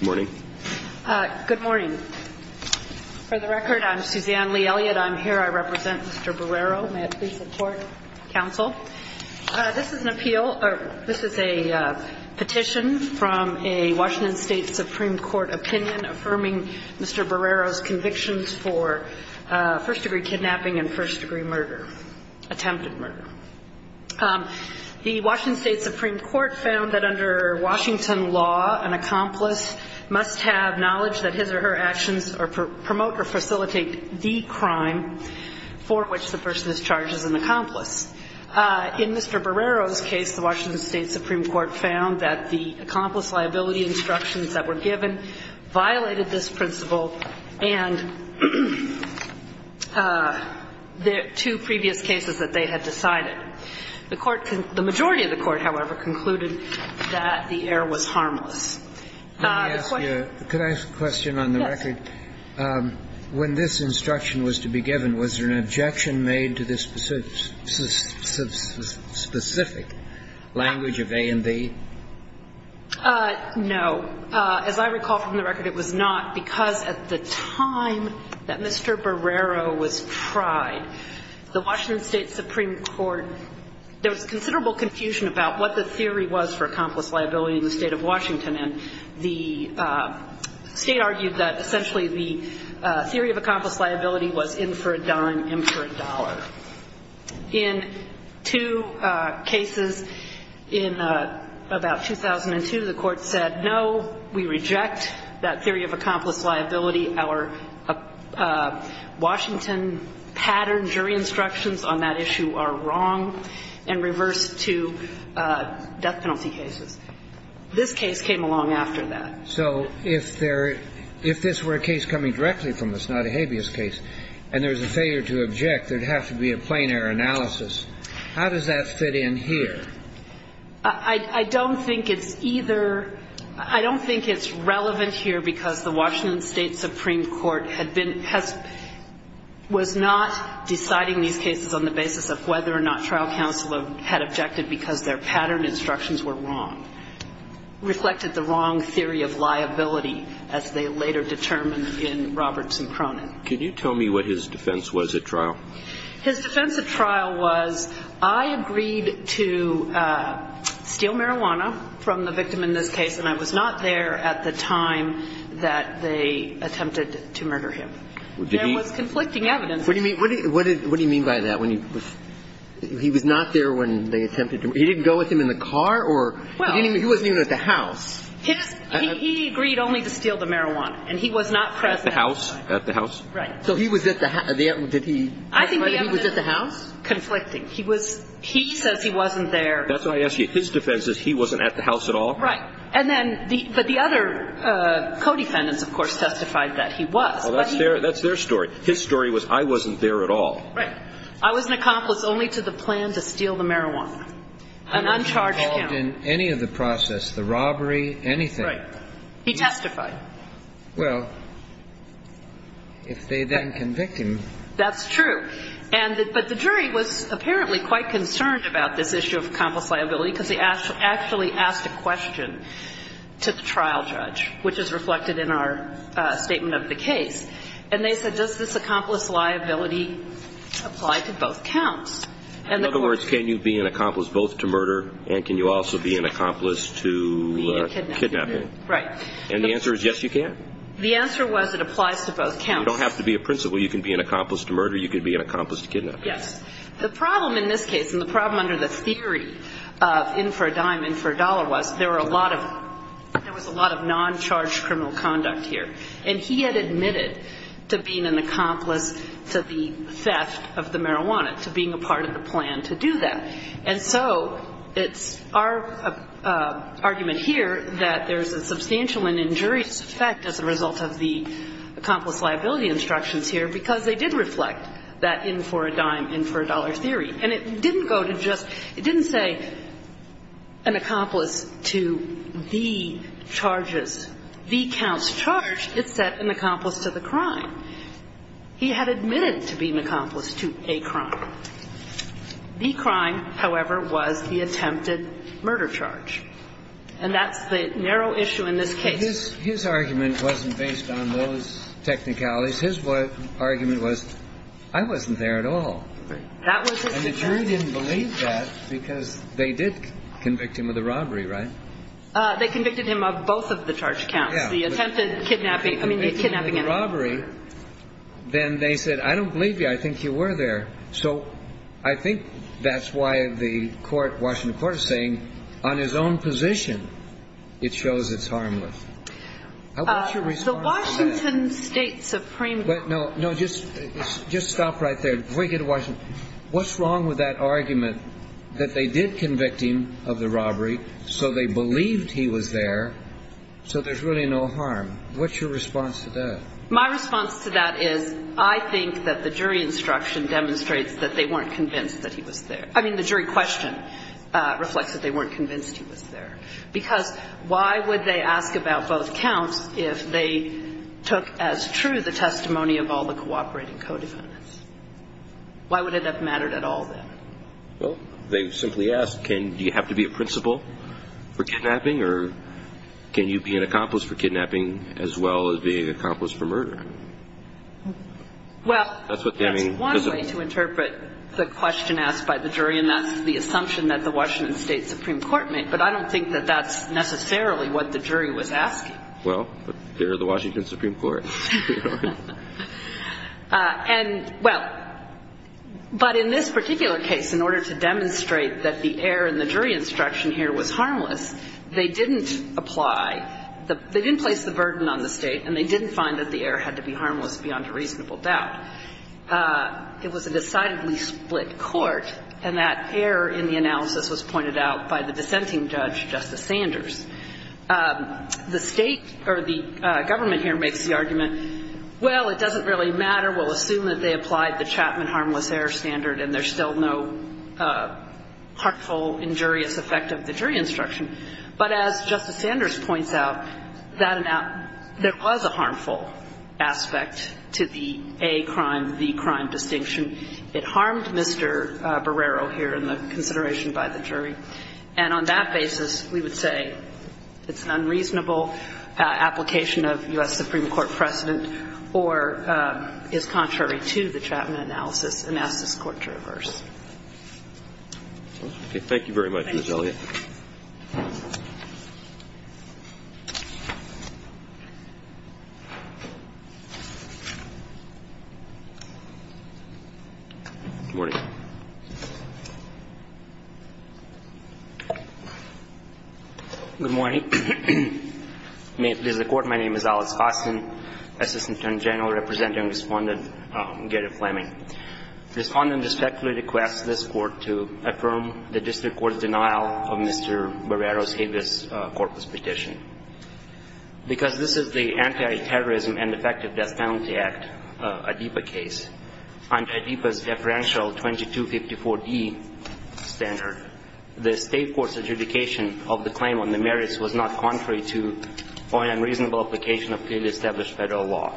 Good morning. Good morning. For the record, I'm Suzanne Lee Elliott. I'm here, I represent Mr. Borrero. May I please report, counsel? This is an appeal, or this is a petition from a Washington State Supreme Court opinion affirming Mr. Borrero's convictions for first-degree kidnapping and first-degree murder, attempted murder. The Washington State Supreme Court found that under Washington law, an accomplice must have knowledge that his or her actions promote or facilitate the crime for which the person is charged as an accomplice. In Mr. Borrero's case, the Washington State Supreme Court found that the accomplice liability instructions that were given violated this principle and the two previous cases that they had decided. The majority of the Court, however, concluded that the error was harmless. The question was to be given, was there an objection made to this specific language of A and B? No. As I recall from the record, it was not, because at the time that Mr. Borrero was tried, the Washington State Supreme Court, there was considerable confusion about what the theory was for accomplice liability in the State of Washington. And the State argued that essentially the theory of accomplice liability was in for a dime, in for a dollar. In two cases in about 2002, the Court said, no, we reject that theory of accomplice liability. Our Washington pattern jury instructions on that issue are wrong and reverse to death penalty cases. This case came along after that. So if there – if this were a case coming directly from the Snoddy-Habeas case, and there's a failure to object, there would have to be a plain error analysis. How does that fit in here? I don't think it's either – I don't think it's relevant here because the Washington State Supreme Court had been – was not deciding these cases on the basis of whether or not trial counsel had objected because their pattern instructions were wrong, reflected the wrong theory of liability as they later determined in Roberts and Cronin. Could you tell me what his defense was at trial? His defense at trial was, I agreed to steal marijuana from the victim in this case, and I was not there at the time that they attempted to murder him. There was conflicting evidence. What do you mean – what do you mean by that? He was not there when they attempted to – he didn't go with him in the car? Or he wasn't even at the house? He agreed only to steal the marijuana, and he was not present at the time. At the house? At the house. Right. So he was at the – did he testify that he was at the house? I think the evidence is conflicting. He was – he says he wasn't there. That's what I asked you. His defense is he wasn't at the house at all? Right. And then – but the other co-defendants, of course, testified that he was. Well, that's their – that's their story. His story was, I wasn't there at all. Right. I was an accomplice only to the plan to steal the marijuana, an uncharged count. I wasn't involved in any of the process, the robbery, anything. Right. He testified. Well, if they then convict him. That's true. And – but the jury was apparently quite concerned about this issue of accomplice liability because they actually asked a question to the trial judge, which is reflected in our statement of the case. And they said, does this accomplice liability apply to both counts? In other words, can you be an accomplice both to murder and can you also be an accomplice to kidnapping? Right. And the answer is yes, you can. The answer was it applies to both counts. You don't have to be a principal. You can be an accomplice to murder. You can be an accomplice to kidnapping. Yes. The problem in this case and the problem under the theory of in for a dime, in for a dollar was there were a lot of – there was a lot of non-charged criminal conduct here. And he had admitted to being an accomplice to the theft of the marijuana, to being a part of the plan to do that. And so it's our argument here that there's a substantial and injurious effect as a result of the accomplice liability instructions here because they did reflect that in for a dime, in for a dollar theory. And it didn't go to just – it didn't say an accomplice to the charges, the counts of charges. It said an accomplice to the crime. He had admitted to being an accomplice to a crime. The crime, however, was the attempted murder charge. And that's the narrow issue in this case. His argument wasn't based on those technicalities. His argument was I wasn't there at all. That was his defense. And the jury didn't believe that because they did convict him of the robbery, right? They convicted him of both of the charged counts. The attempted kidnapping. I mean, the kidnapping and the robbery. Then they said I don't believe you. I think you were there. So I think that's why the court, Washington court, is saying on his own position it shows it's harmless. How about your response to that? The Washington State Supreme Court. No, no, just stop right there. Before you get to Washington, what's wrong with that argument that they did convict him of the robbery so they believed he was there so there's really no harm? What's your response to that? My response to that is I think that the jury instruction demonstrates that they weren't convinced that he was there. I mean, the jury question reflects that they weren't convinced he was there. Because why would they ask about both counts if they took as true the testimony of all the cooperating co-defendants? Why would it have mattered at all then? Well, they simply asked do you have to be a principal for kidnapping or can you be an accomplice for kidnapping as well as being an accomplice for murder? Well, that's one way to interpret the question asked by the jury, and that's the assumption that the Washington State Supreme Court made. But I don't think that that's necessarily what the jury was asking. Well, they're the Washington Supreme Court. And, well, but in this particular case, in order to demonstrate that the error in the jury instruction here was harmless, they didn't apply, they didn't place the burden on the state, and they didn't find that the error had to be harmless beyond a reasonable doubt. It was a decidedly split court, and that error in the analysis was pointed out by the dissenting judge, Justice Sanders. The state or the government here makes the argument, well, it doesn't really matter. We'll assume that they applied the Chapman harmless error standard and there's still no hurtful injurious effect of the jury instruction. But as Justice Sanders points out, there was a harmful aspect to the A crime, the crime distinction. It harmed Mr. Barrero here in the consideration by the jury. And on that basis, we would say it's an unreasonable application of U.S. Supreme Court precedent or is contrary to the Chapman analysis and asks this Court to reverse. Okay. Thank you very much, Ms. Elliott. Thank you. Good morning. May it please the Court. My name is Alex Faustin, Assistant Attorney General representing Respondent Gary Fleming. Respondent respectfully requests this Court to affirm the district court's denial of Mr. Barrero's habeas corpus petition. Because this is the Anti-Terrorism and Effective Death Penalty Act, a DEPA case, under DEPA's deferential 2254D standard, the state court's adjudication of the claim on the merits was not contrary to or an unreasonable application of clearly established federal law.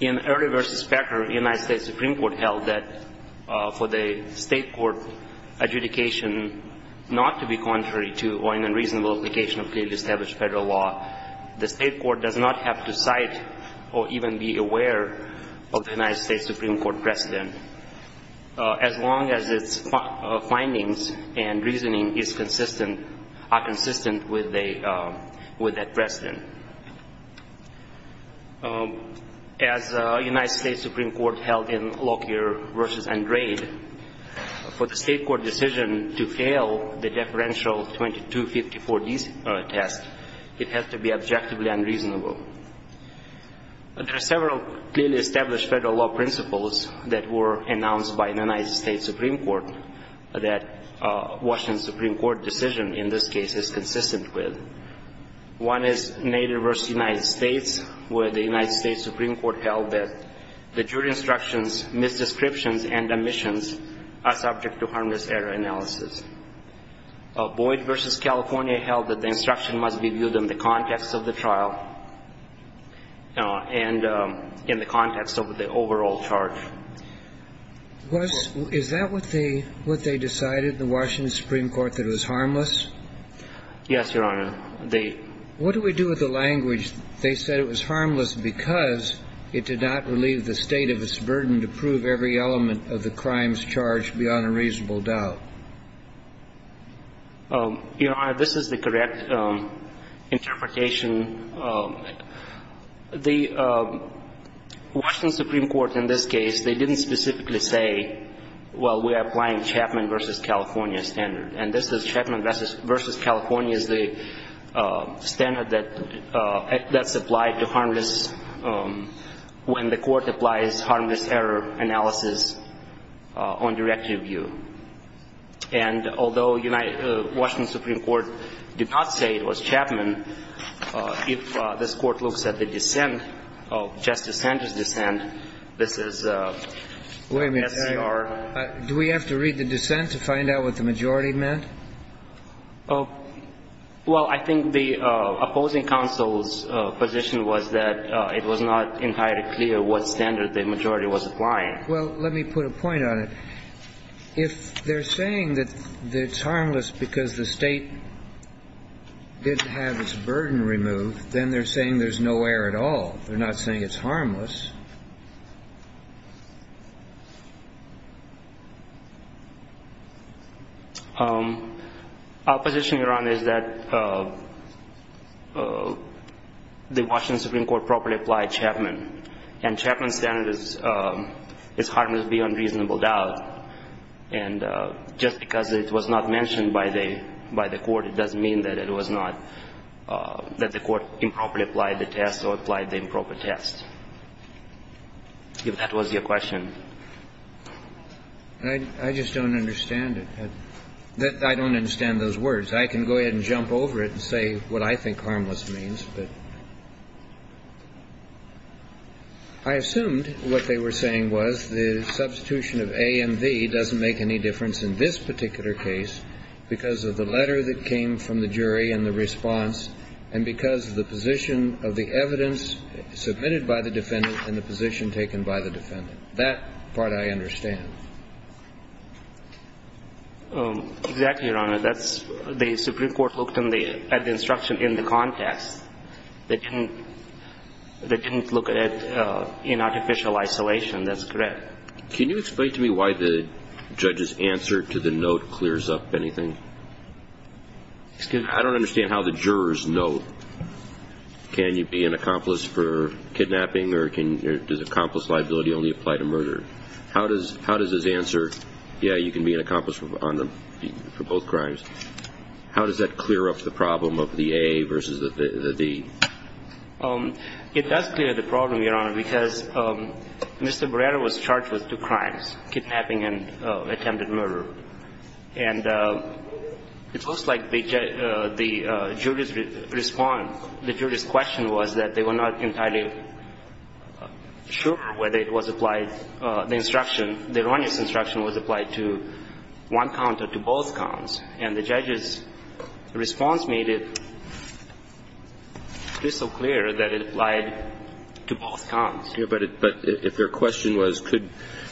In Ernie v. Packer, the United States Supreme Court held that for the state court adjudication not to be contrary to or an unreasonable application of clearly established federal law, the state court does not have to cite or even be aware of the United States Supreme Court precedent as long as its findings and reasoning are consistent with that precedent. As the United States Supreme Court held in Lockyer v. Andrade, for the state court decision to fail the deferential 2254D test, it has to be objectively unreasonable. There are several clearly established federal law principles that were announced by the United States Supreme Court that Washington's Supreme Court decision in this case is consistent with. One is Nader v. United States, where the United States Supreme Court held that the jury instructions, misdescriptions, and omissions are subject to harmless error analysis. Boyd v. California held that the instruction must be viewed in the context of the trial and in the context of the overall charge. Was that what they decided, the Washington Supreme Court, that it was harmless? Yes, Your Honor. What do we do with the language they said it was harmless because it did not relieve the state of its burden to prove every element of the crimes charged beyond a reasonable doubt? Your Honor, this is the correct interpretation. The Washington Supreme Court in this case, they didn't specifically say, well, we are applying Chapman v. California standard. And this is Chapman v. California is the standard that's applied to harmless when the court applies harmless error analysis on directive view. And although Washington Supreme Court did not say it was Chapman, if this court looks at the dissent of Justice Sanders' dissent, this is SCR. Wait a minute. Do we have to read the dissent to find out what the majority meant? Well, I think the opposing counsel's position was that it was not entirely clear what standard the majority was applying. Well, let me put a point on it. If they're saying that it's harmless because the state didn't have its burden removed, then they're saying there's no error at all. They're not saying it's harmless. Opposition, Your Honor, is that the Washington Supreme Court properly applied Chapman. And Chapman standard is harmless beyond reasonable doubt. And just because it was not mentioned by the court, it doesn't mean that the court improperly applied the test or applied the improper test. If that was your question. I just don't understand it. I don't understand those words. I can go ahead and jump over it and say what I think harmless means. But I assumed what they were saying was the substitution of A and B doesn't make any difference in this particular case because of the letter that came from the jury and the response and because of the position of the evidence submitted by the defendant and the position taken by the defendant. That part I understand. Exactly, Your Honor. The Supreme Court looked at the instruction in the context. They didn't look at it in artificial isolation. That's correct. Can you explain to me why the judge's answer to the note clears up anything? Excuse me? I don't understand how the jurors know. Can you be an accomplice for kidnapping or does accomplice liability only apply to murder? How does his answer, yeah, you can be an accomplice for both crimes, how does that clear up the problem of the A versus the D? It does clear the problem, Your Honor, because Mr. Barrera was charged with two crimes, kidnapping and attempted murder. And it looks like the jury's response, the jury's question was that they were not entirely sure whether it was applied, the instruction, the erroneous instruction was applied to one count or to both counts. And the judge's response made it crystal clear that it applied to both counts. But if their question was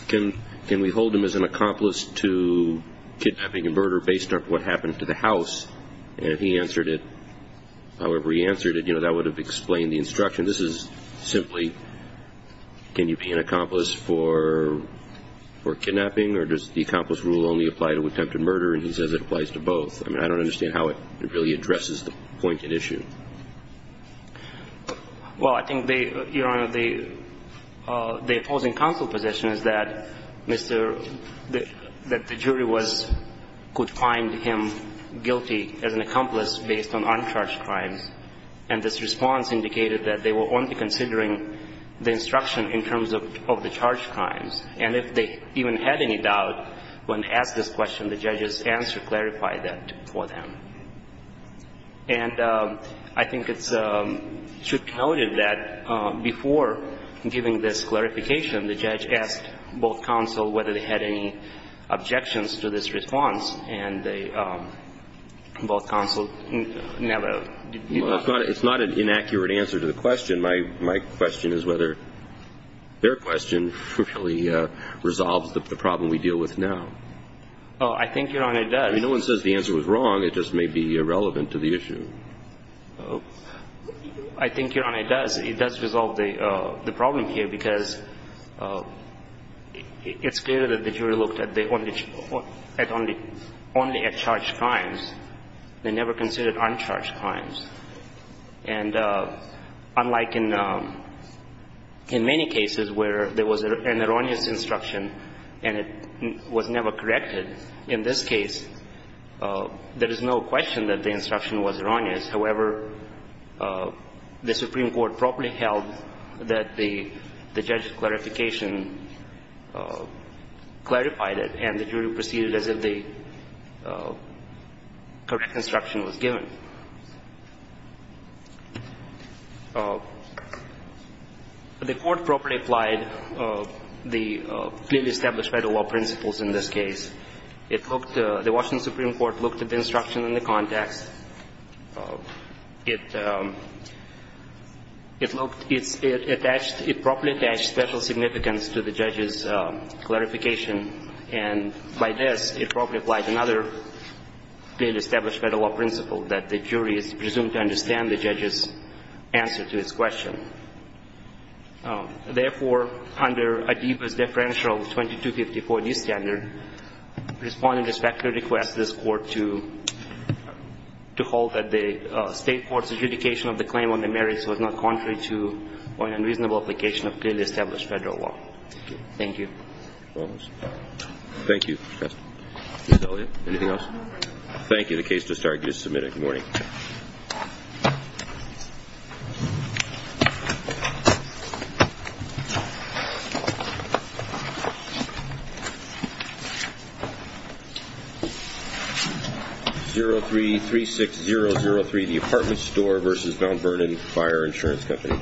can we hold him as an accomplice to kidnapping and murder based on what happened to the house, and if he answered it however he answered it, you know, that would have explained the instruction. This is simply can you be an accomplice for kidnapping or does the accomplice rule only apply to attempted murder, and he says it applies to both. I mean, I don't understand how it really addresses the point at issue. Well, I think, Your Honor, the opposing counsel position is that Mr. – that the jury was – could find him guilty as an accomplice based on uncharged crimes, and this response indicated that they were only considering the instruction in terms of the charged crimes. And if they even had any doubt when asked this question, the judge's answer clarified that for them. And I think it's – should count it that before giving this clarification, the judge asked both counsel whether they had any objections to this response, and they – both counsel never – Well, it's not an inaccurate answer to the question. My question is whether their question really resolves the problem we deal with now. Oh, I think, Your Honor, it does. I mean, no one says the answer was wrong. It just may be irrelevant to the issue. I think, Your Honor, it does. It does resolve the problem here because it's clear that the jury looked at the only – only at charged crimes. They never considered uncharged crimes. And unlike in many cases where there was an erroneous instruction and it was never corrected, in this case, there is no question that the instruction was erroneous. However, the Supreme Court properly held that the judge's clarification clarified it and the jury proceeded as if the correct instruction was given. The Court properly applied the clearly established Federal law principles in this case It looked – the Washington Supreme Court looked at the instruction in the context. It looked – it attached – it properly attached special significance to the judge's clarification. And by this, it properly applied another clearly established Federal law principle that the jury is presumed to understand the judge's answer to its question. Therefore, under ADIPA's differential 2254D standard, respondent respectfully requests this Court to – to hold that the State Court's adjudication of the claim on the merits was not contrary to or an unreasonable application of clearly established Federal law. Thank you. Thank you. Thank you, Professor. Ms. Elliott, anything else? Thank you. The case is submitted. Good morning. 0336003, the Apartment Store v. Mount Vernon Fire Insurance Company.